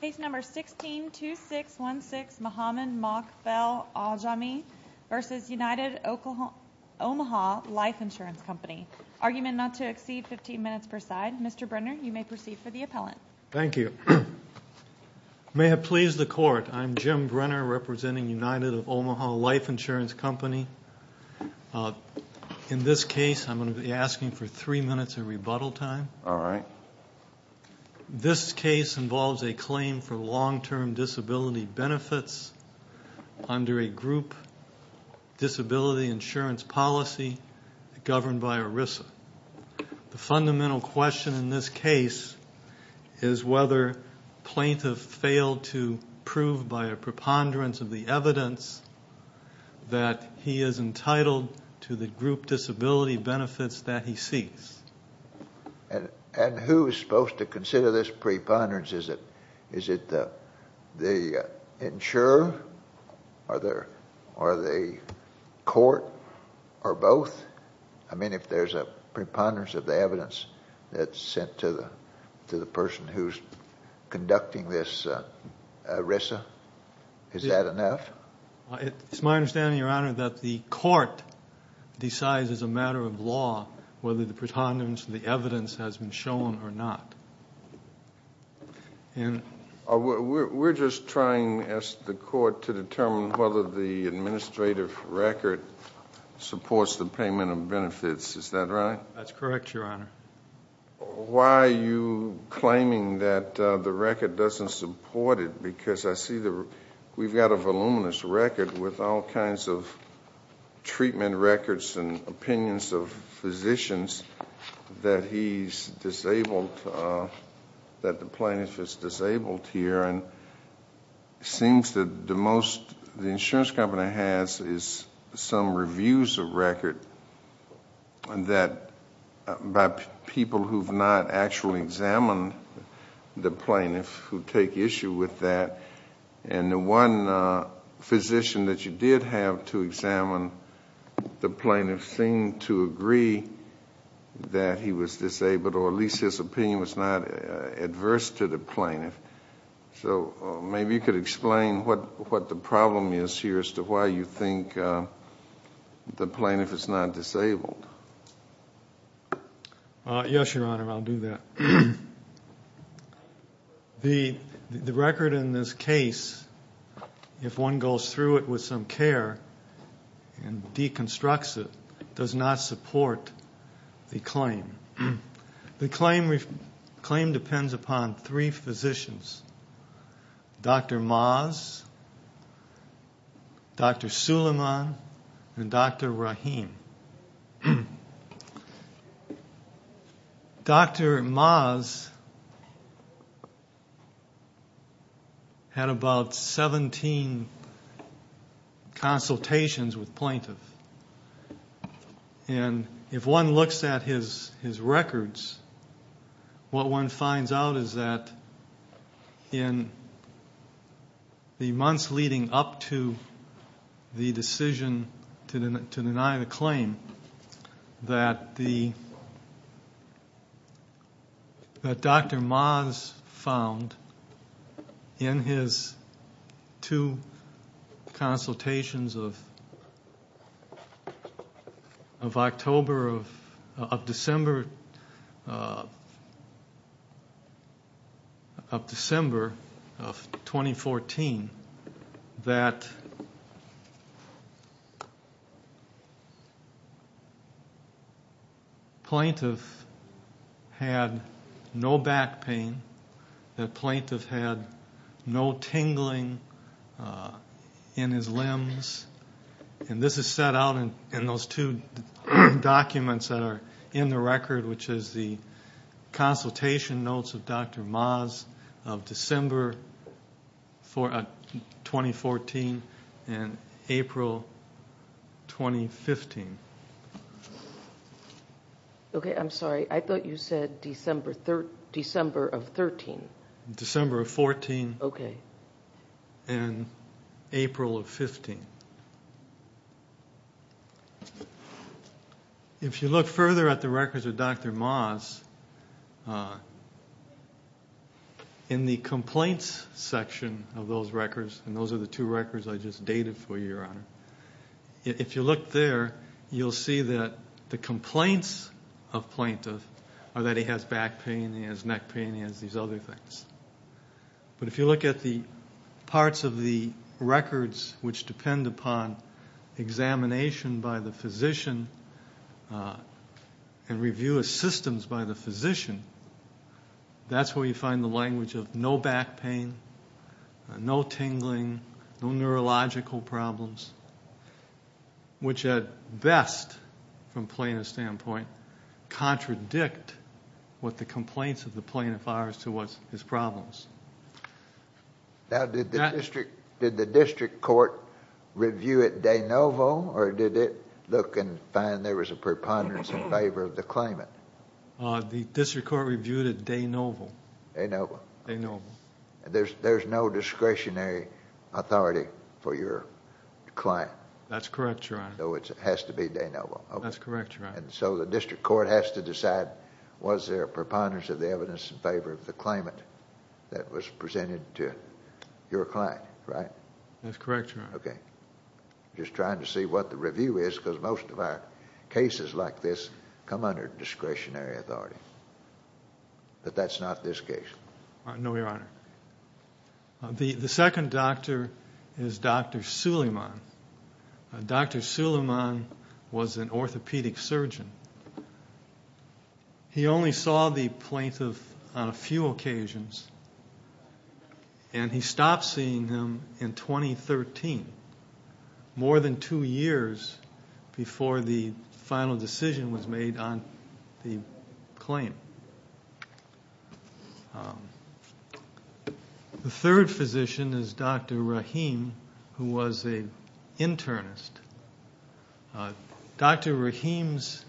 Case number 162616 Mohamed Mokbel-Aljahmi v. United Omaha Life Insurance Company Argument not to exceed 15 minutes per side. Mr. Brenner, you may proceed for the appellant. Thank you. May it please the Court, I'm Jim Brenner representing United of Omaha Life Insurance Company. In this case, I'm going to be asking for three minutes of rebuttal time. All right. This case involves a claim for long-term disability benefits under a group disability insurance policy governed by ERISA. The fundamental question in this case is whether plaintiff failed to prove by a preponderance of the evidence that he is entitled to the group disability benefits that he seeks. And who is supposed to consider this preponderance? Is it the insurer or the court or both? I mean, if there's a preponderance of the evidence that's sent to the person who's conducting this ERISA, is that enough? It's my understanding, Your Honor, that the court decides as a matter of law whether the preponderance of the evidence has been shown or not. We're just trying, as the court, to determine whether the administrative record supports the payment of benefits. Is that right? That's correct, Your Honor. Why are you claiming that the record doesn't support it? Because I see that we've got a voluminous record with all kinds of treatment records and opinions of physicians that he's disabled, that the plaintiff is disabled here, and it seems that the most the insurance company has is some reviews of record that by people who've not actually examined the plaintiff who take issue with that. And the one physician that you did have to examine, the plaintiff seemed to agree that he was disabled, or at least his opinion was not adverse to the plaintiff. So maybe you could explain what the problem is here as to why you think the plaintiff is not disabled. Yes, Your Honor, I'll do that. The record in this case, if one goes through it with some care and deconstructs it, does not support the claim. The claim depends upon three physicians, Dr. Maas, Dr. Suleiman, and Dr. Rahim. Dr. Maas had about 17 consultations with plaintiffs, and if one looks at his records, what one finds out is that in the months leading up to the decision to deny the claim, that Dr. Maas found in his two consultations of October of December of 2014, that plaintiff had no back pain, that plaintiff had no tingling in his limbs. And this is set out in those two documents that are in the record, which is the consultation notes of Dr. Maas of December 2014 and April 2015. Okay, I'm sorry, I thought you said December of 13. December of 14. Okay. And April of 15. Okay. If you look further at the records of Dr. Maas, in the complaints section of those records, and those are the two records I just dated for you, Your Honor, if you look there, you'll see that the complaints of plaintiff are that he has back pain, he has neck pain, he has these other things. But if you look at the parts of the records which depend upon examination by the physician and review of systems by the physician, that's where you find the language of no back pain, no tingling, no neurological problems, which at best, from plaintiff's standpoint, contradict what the complaints of the plaintiff are as to his problems. Now, did the district court review it de novo, or did it look and find there was a preponderance in favor of the claimant? The district court reviewed it de novo. De novo. De novo. There's no discretionary authority for your client. That's correct, Your Honor. So it has to be de novo. That's correct, Your Honor. And so the district court has to decide, was there a preponderance of the evidence in favor of the claimant that was presented to your client, right? That's correct, Your Honor. Okay. Just trying to see what the review is because most of our cases like this come under discretionary authority. But that's not this case. No, Your Honor. The second doctor is Dr. Suleiman. Dr. Suleiman was an orthopedic surgeon. He only saw the plaintiff on a few occasions, and he stopped seeing him in 2013, more than two years before the final decision was made on the claim. The third physician is Dr. Rahim, who was an internist. Dr. Rahim's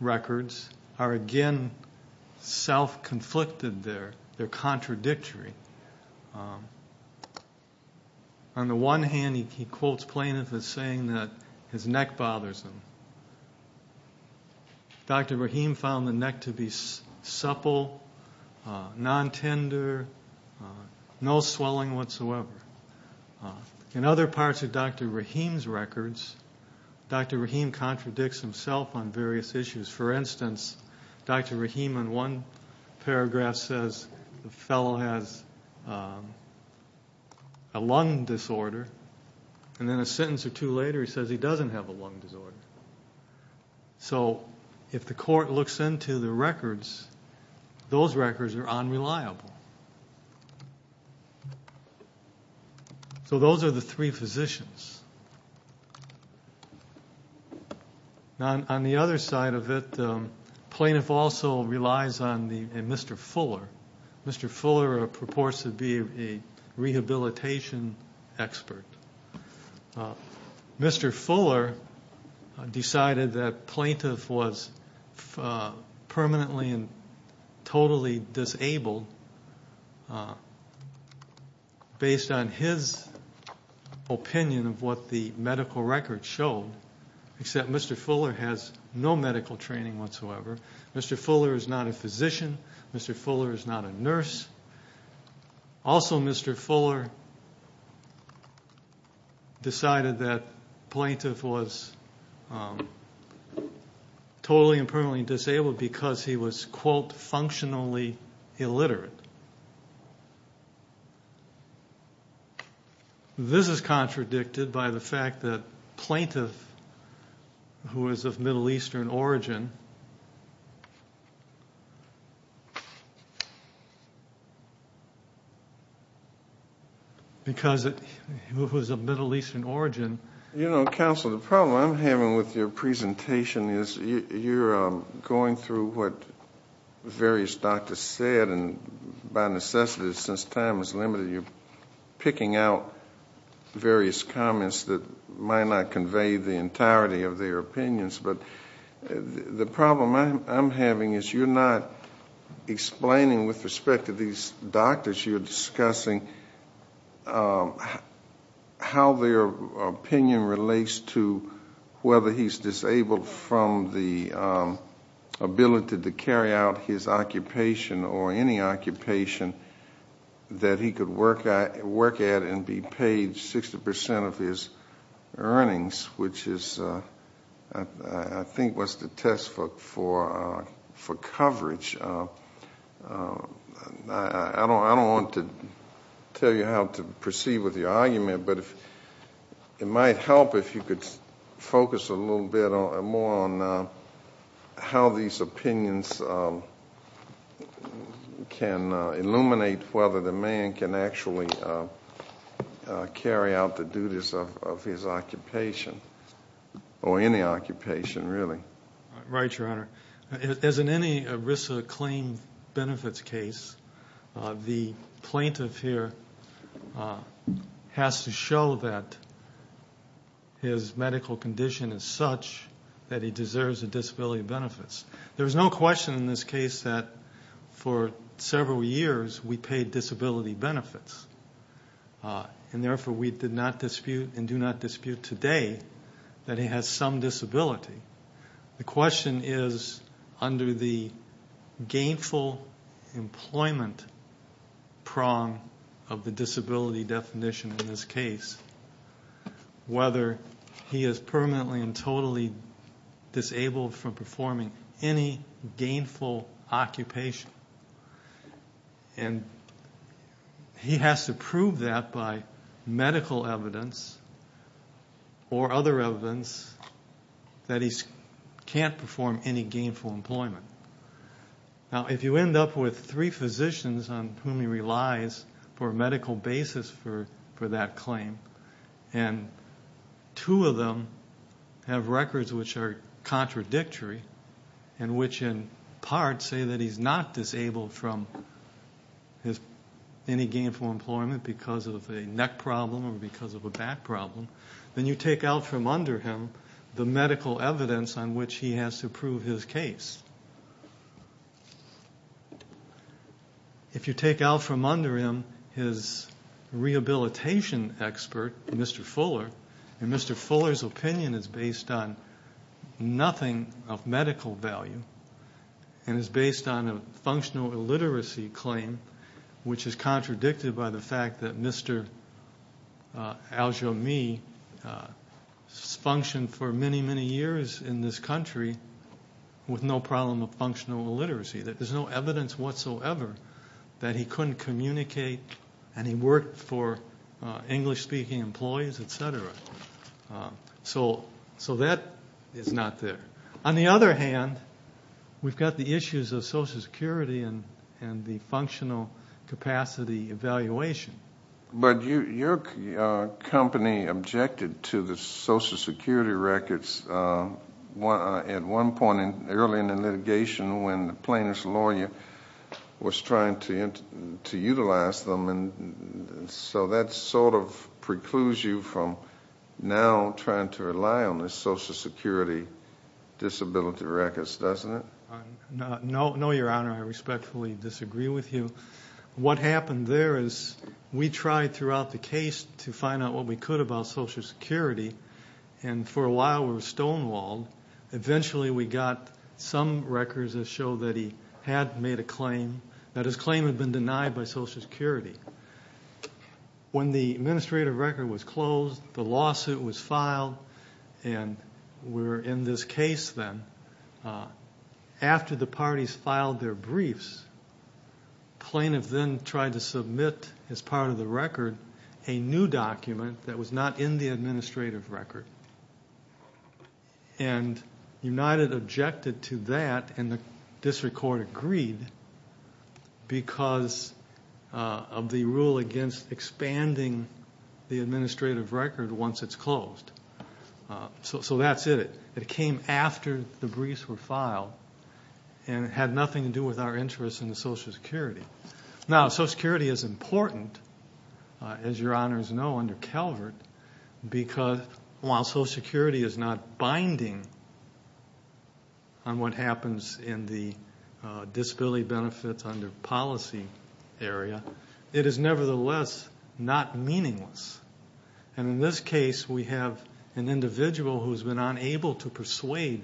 records are, again, self-conflicted. They're contradictory. On the one hand, he quotes plaintiff as saying that his neck bothers him. Dr. Rahim found the neck to be supple, non-tender, no swelling whatsoever. In other parts of Dr. Rahim's records, Dr. Rahim contradicts himself on various issues. For instance, Dr. Rahim in one paragraph says the fellow has a lung disorder, and then a sentence or two later he says he doesn't have a lung disorder. So if the court looks into the records, those records are unreliable. So those are the three physicians. On the other side of it, plaintiff also relies on Mr. Fuller. Mr. Fuller purports to be a rehabilitation expert. Mr. Fuller decided that plaintiff was permanently and totally disabled, based on his opinion of what the medical records showed, except Mr. Fuller has no medical training whatsoever. Mr. Fuller is not a physician. Mr. Fuller is not a nurse. Also, Mr. Fuller decided that plaintiff was totally and permanently disabled because he was, quote, functionally illiterate. This is contradicted by the fact that plaintiff, who is of Middle Eastern origin, because he was of Middle Eastern origin. You know, counsel, the problem I'm having with your presentation is you're going through what various doctors said and by necessity, since time is limited, you're picking out various comments that might not convey the entirety of their opinions. But the problem I'm having is you're not explaining with respect to these doctors, you're discussing how their opinion relates to whether he's disabled from the ability to carry out his occupation or any occupation that he could work at and be paid 60% of his earnings, which I think was the test for coverage. I don't want to tell you how to proceed with your argument, but it might help if you could focus a little bit more on how these opinions can illuminate whether the man can actually carry out the duties of his occupation or any occupation, really. Right, Your Honor. As in any risk of claim benefits case, the plaintiff here has to show that his medical condition is such that he deserves the disability benefits. There is no question in this case that for several years we paid disability benefits, and therefore we did not dispute and do not dispute today that he has some disability. The question is, under the gainful employment prong of the disability definition in this case, whether he is permanently and totally disabled from performing any gainful occupation. And he has to prove that by medical evidence or other evidence that he can't perform any gainful employment. Now, if you end up with three physicians on whom he relies for a medical basis for that claim and two of them have records which are contradictory and which in part say that he's not disabled from any gainful employment because of a neck problem or because of a back problem, then you take out from under him the medical evidence on which he has to prove his case. If you take out from under him his rehabilitation expert, Mr. Fuller, and Mr. Fuller's opinion is based on nothing of medical value and is based on a functional illiteracy claim which is contradicted by the fact that Mr. Aljami functioned for many, many years in this country with no problem of functional illiteracy. There's no evidence whatsoever that he couldn't communicate and he worked for English-speaking employees, et cetera. So that is not there. On the other hand, we've got the issues of Social Security and the functional capacity evaluation. But your company objected to the Social Security records at one point early in the litigation when the plaintiff's lawyer was trying to utilize them, and so that sort of precludes you from now trying to rely on the Social Security disability records, doesn't it? No, Your Honor. I respectfully disagree with you. What happened there is we tried throughout the case to find out what we could about Social Security, and for a while we were stonewalled. Eventually we got some records that show that he had made a claim, that his claim had been denied by Social Security. When the administrative record was closed, the lawsuit was filed, and we're in this case then. After the parties filed their briefs, plaintiff then tried to submit as part of the record a new document that was not in the administrative record, and United objected to that, and the district court agreed because of the rule against expanding the administrative record once it's closed. So that's it. It came after the briefs were filed, and it had nothing to do with our interest in the Social Security. Now, Social Security is important, as Your Honors know, under Calvert, because while Social Security is not binding on what happens in the disability benefits under policy area, it is nevertheless not meaningless. In this case, we have an individual who's been unable to persuade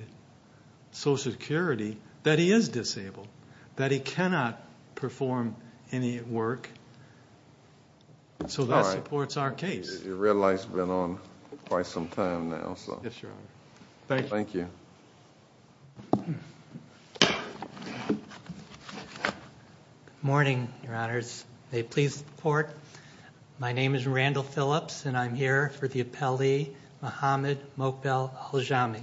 Social Security that he is disabled, that he cannot perform any work, so that supports our case. Your red light's been on quite some time now. Yes, Your Honor. Thank you. May it please the Court. My name is Randall Phillips, and I'm here for the appellee, Muhammad Mokbel-Aljami.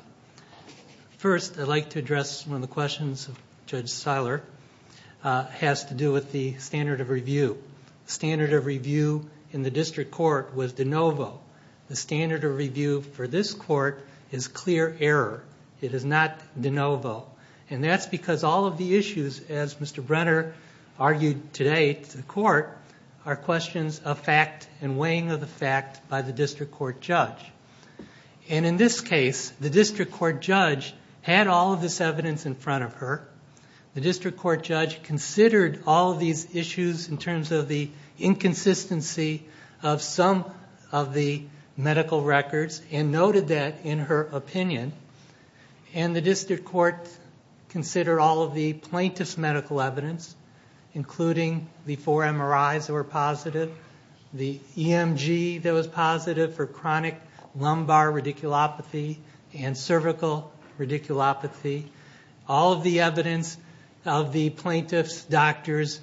First, I'd like to address one of the questions of Judge Seiler. It has to do with the standard of review. The standard of review in the district court was de novo. The standard of review for this court is clear error. It is not de novo, and that's because all of the issues, as Mr. Brenner argued today to the Court, are questions of fact and weighing of the fact by the district court judge. And in this case, the district court judge had all of this evidence in front of her. The district court judge considered all of these issues in terms of the inconsistency of some of the medical records and noted that in her opinion, and the district court considered all of the plaintiff's medical evidence, including the four MRIs that were positive, the EMG that was positive for chronic lumbar radiculopathy and cervical radiculopathy, all of the evidence of the plaintiff's doctor's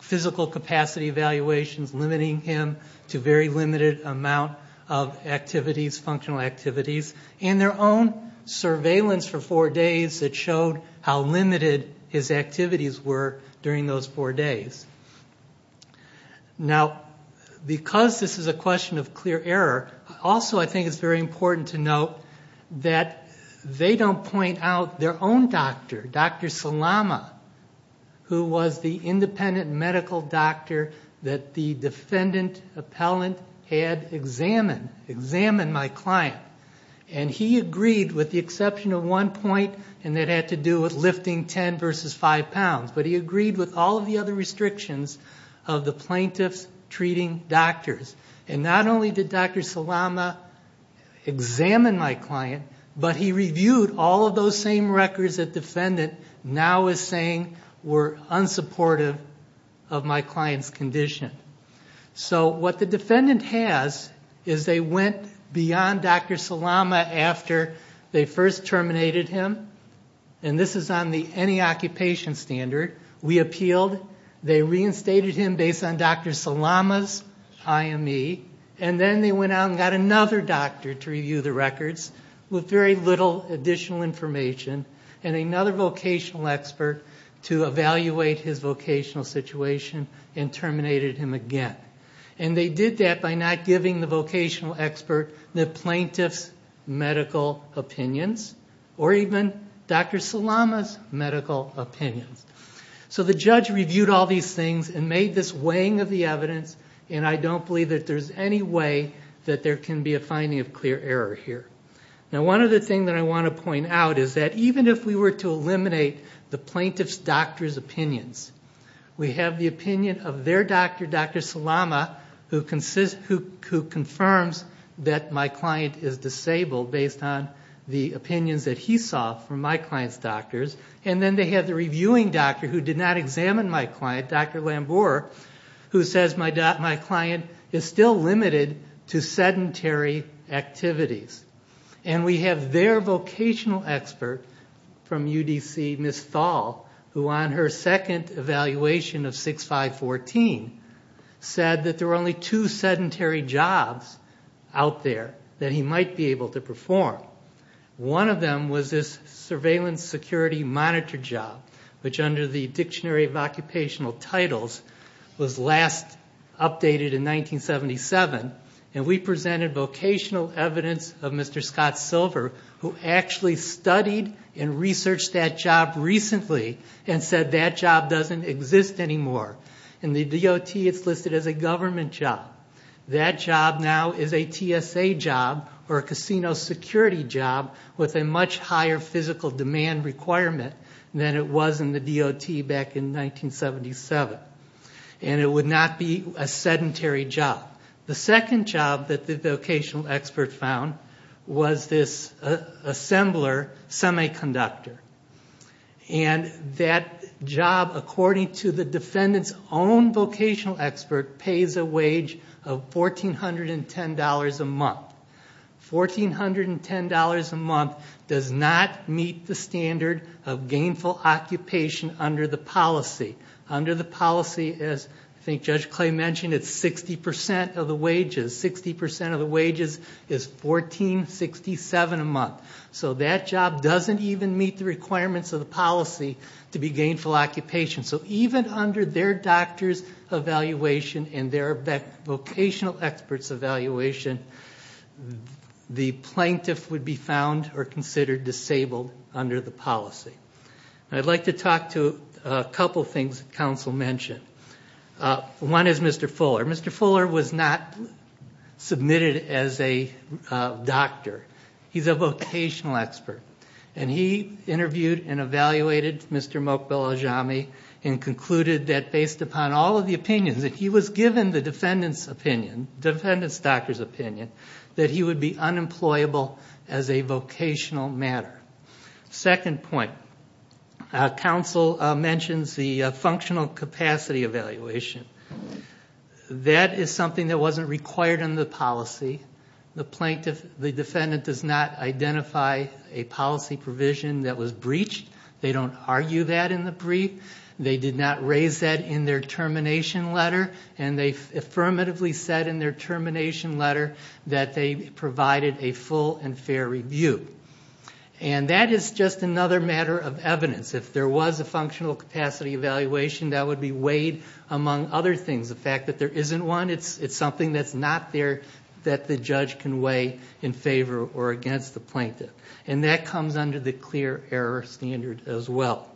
physical capacity evaluations limiting him to a very limited amount of activities, functional activities, and their own surveillance for four days that showed how limited his activities were during those four days. Now, because this is a question of clear error, also I think it's very important to note that they don't point out their own doctor, Dr. Salama, who was the independent medical doctor that the defendant appellant had examined, examined my client. And he agreed with the exception of one point, and that had to do with lifting 10 versus 5 pounds. But he agreed with all of the other restrictions of the plaintiff's treating doctors. And not only did Dr. Salama examine my client, but he reviewed all of those same records that the defendant now is saying were unsupportive of my client's condition. So what the defendant has is they went beyond Dr. Salama after they first terminated him. And this is on the any occupation standard. We appealed. They reinstated him based on Dr. Salama's IME. And then they went out and got another doctor to review the records with very little additional information, and another vocational expert to evaluate his vocational situation and terminated him again. And they did that by not giving the vocational expert the plaintiff's medical opinions, or even Dr. Salama's medical opinions. So the judge reviewed all these things and made this weighing of the evidence, and I don't believe that there's any way that there can be a finding of clear error here. Now, one other thing that I want to point out is that even if we were to eliminate the plaintiff's doctor's opinions, we have the opinion of their doctor, Dr. Salama, who confirms that my client is disabled based on the opinions that he saw from my client's doctors. And then they have the reviewing doctor who did not examine my client, Dr. Lambour, who says my client is still limited to sedentary activities. And we have their vocational expert from UDC, Ms. Thal, who on her second evaluation of 6514, said that there were only two sedentary jobs out there that he might be able to perform. One of them was this surveillance security monitor job, which under the Dictionary of Occupational Titles was last updated in 1977, and we presented vocational evidence of Mr. Scott Silver, who actually studied and researched that job recently and said that job doesn't exist anymore. In the DOT, it's listed as a government job. That job now is a TSA job or a casino security job with a much higher physical demand requirement than it was in the DOT back in 1977. And it would not be a sedentary job. The second job that the vocational expert found was this assembler semiconductor. And that job, according to the defendant's own vocational expert, pays a wage of $1,410 a month. $1,410 a month does not meet the standard of gainful occupation under the policy. Under the policy, as I think Judge Clay mentioned, it's 60% of the wages. 60% of the wages is $1,467 a month. So that job doesn't even meet the requirements of the policy to be gainful occupation. So even under their doctor's evaluation and their vocational expert's evaluation, the plaintiff would be found or considered disabled under the policy. And I'd like to talk to a couple things that counsel mentioned. One is Mr. Fuller. Mr. Fuller was not submitted as a doctor. He's a vocational expert. And he interviewed and evaluated Mr. Mok-Belajami and concluded that based upon all of the opinions that he was given, the defendant's opinion, the defendant's doctor's opinion, that he would be unemployable as a vocational matter. Second point, counsel mentions the functional capacity evaluation. That is something that wasn't required under the policy. The defendant does not identify a policy provision that was breached. They don't argue that in the brief. They did not raise that in their termination letter. And they affirmatively said in their termination letter that they provided a full and fair review. And that is just another matter of evidence. If there was a functional capacity evaluation, that would be weighed among other things. The fact that there isn't one, it's something that's not there that the judge can weigh in favor or against the plaintiff. And that comes under the clear error standard as well.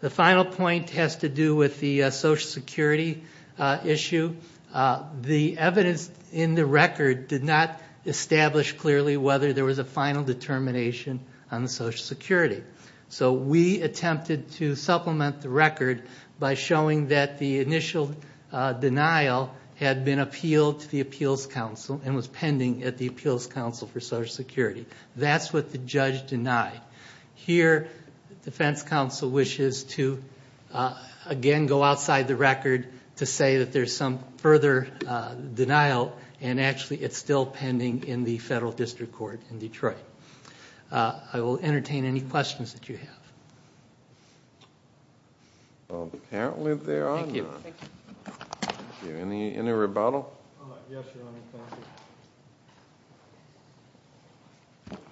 The final point has to do with the Social Security issue. The evidence in the record did not establish clearly whether there was a final determination on Social Security. So we attempted to supplement the record by showing that the initial denial had been appealed to the Appeals Council and was pending at the Appeals Council for Social Security. That's what the judge denied. Here, the defense counsel wishes to again go outside the record to say that there's some further denial and actually it's still pending in the federal district court in Detroit. I will entertain any questions that you have. Well, apparently there are none. Thank you. Any rebuttal? Yes, Your Honor,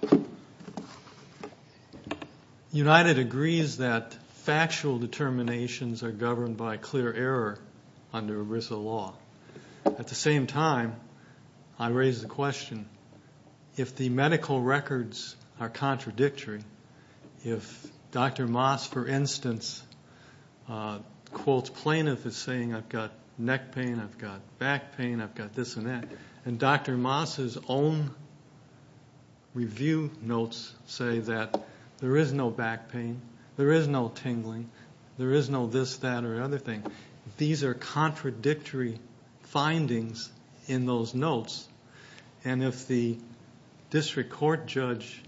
thank you. United agrees that factual determinations are governed by clear error under ERISA law. At the same time, I raise the question, if the medical records are contradictory, if Dr. Moss, for instance, quotes plaintiff as saying I've got neck pain, I've got back pain, I've got this and that, and Dr. Moss's own review notes say that there is no back pain, there is no tingling, there is no this, that, or other thing, these are contradictory findings in those notes, and if the district court judge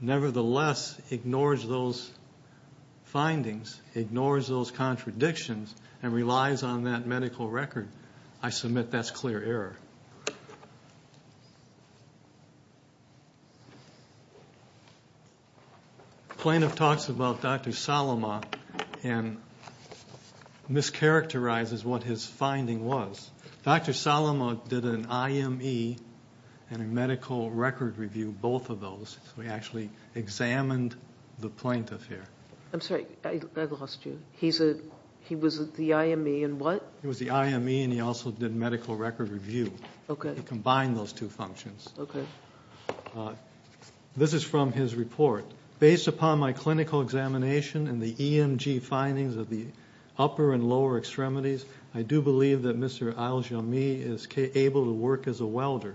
nevertheless ignores those findings, ignores those contradictions, and relies on that medical record, I submit that's clear error. Thank you. Plaintiff talks about Dr. Salama and mischaracterizes what his finding was. Dr. Salama did an IME and a medical record review, both of those, so he actually examined the plaintiff here. I'm sorry, I lost you. He was the IME in what? He was the IME, and he also did medical record review. Okay. He combined those two functions. Okay. This is from his report. Based upon my clinical examination and the EMG findings of the upper and lower extremities, I do believe that Mr. Aljami is able to work as a welder.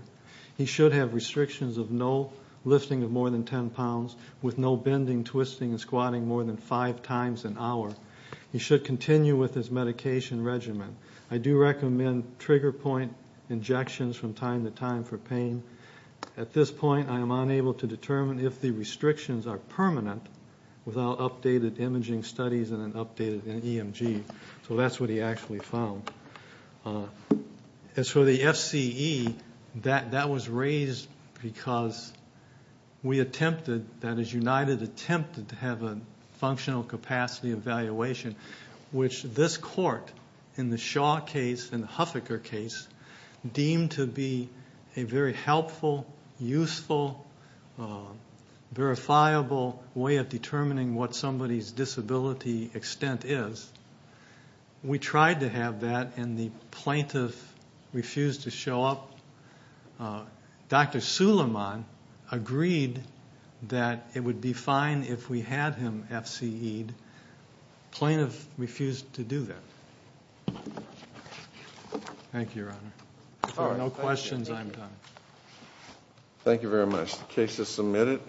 He should have restrictions of no lifting of more than 10 pounds, with no bending, twisting, and squatting more than five times an hour. He should continue with his medication regimen. I do recommend trigger point injections from time to time for pain. At this point, I am unable to determine if the restrictions are permanent without updated imaging studies and an updated EMG. So that's what he actually found. As for the FCE, that was raised because we attempted, that is, United attempted to have a functional capacity evaluation, which this court, in the Shaw case and the Huffaker case, deemed to be a very helpful, useful, verifiable way of determining what somebody's disability extent is. We tried to have that, and the plaintiff refused to show up. Dr. Suleiman agreed that it would be fine if we had him FCEd. The plaintiff refused to do that. Thank you, Your Honor. If there are no questions, I am done. Thank you very much. The case is submitted.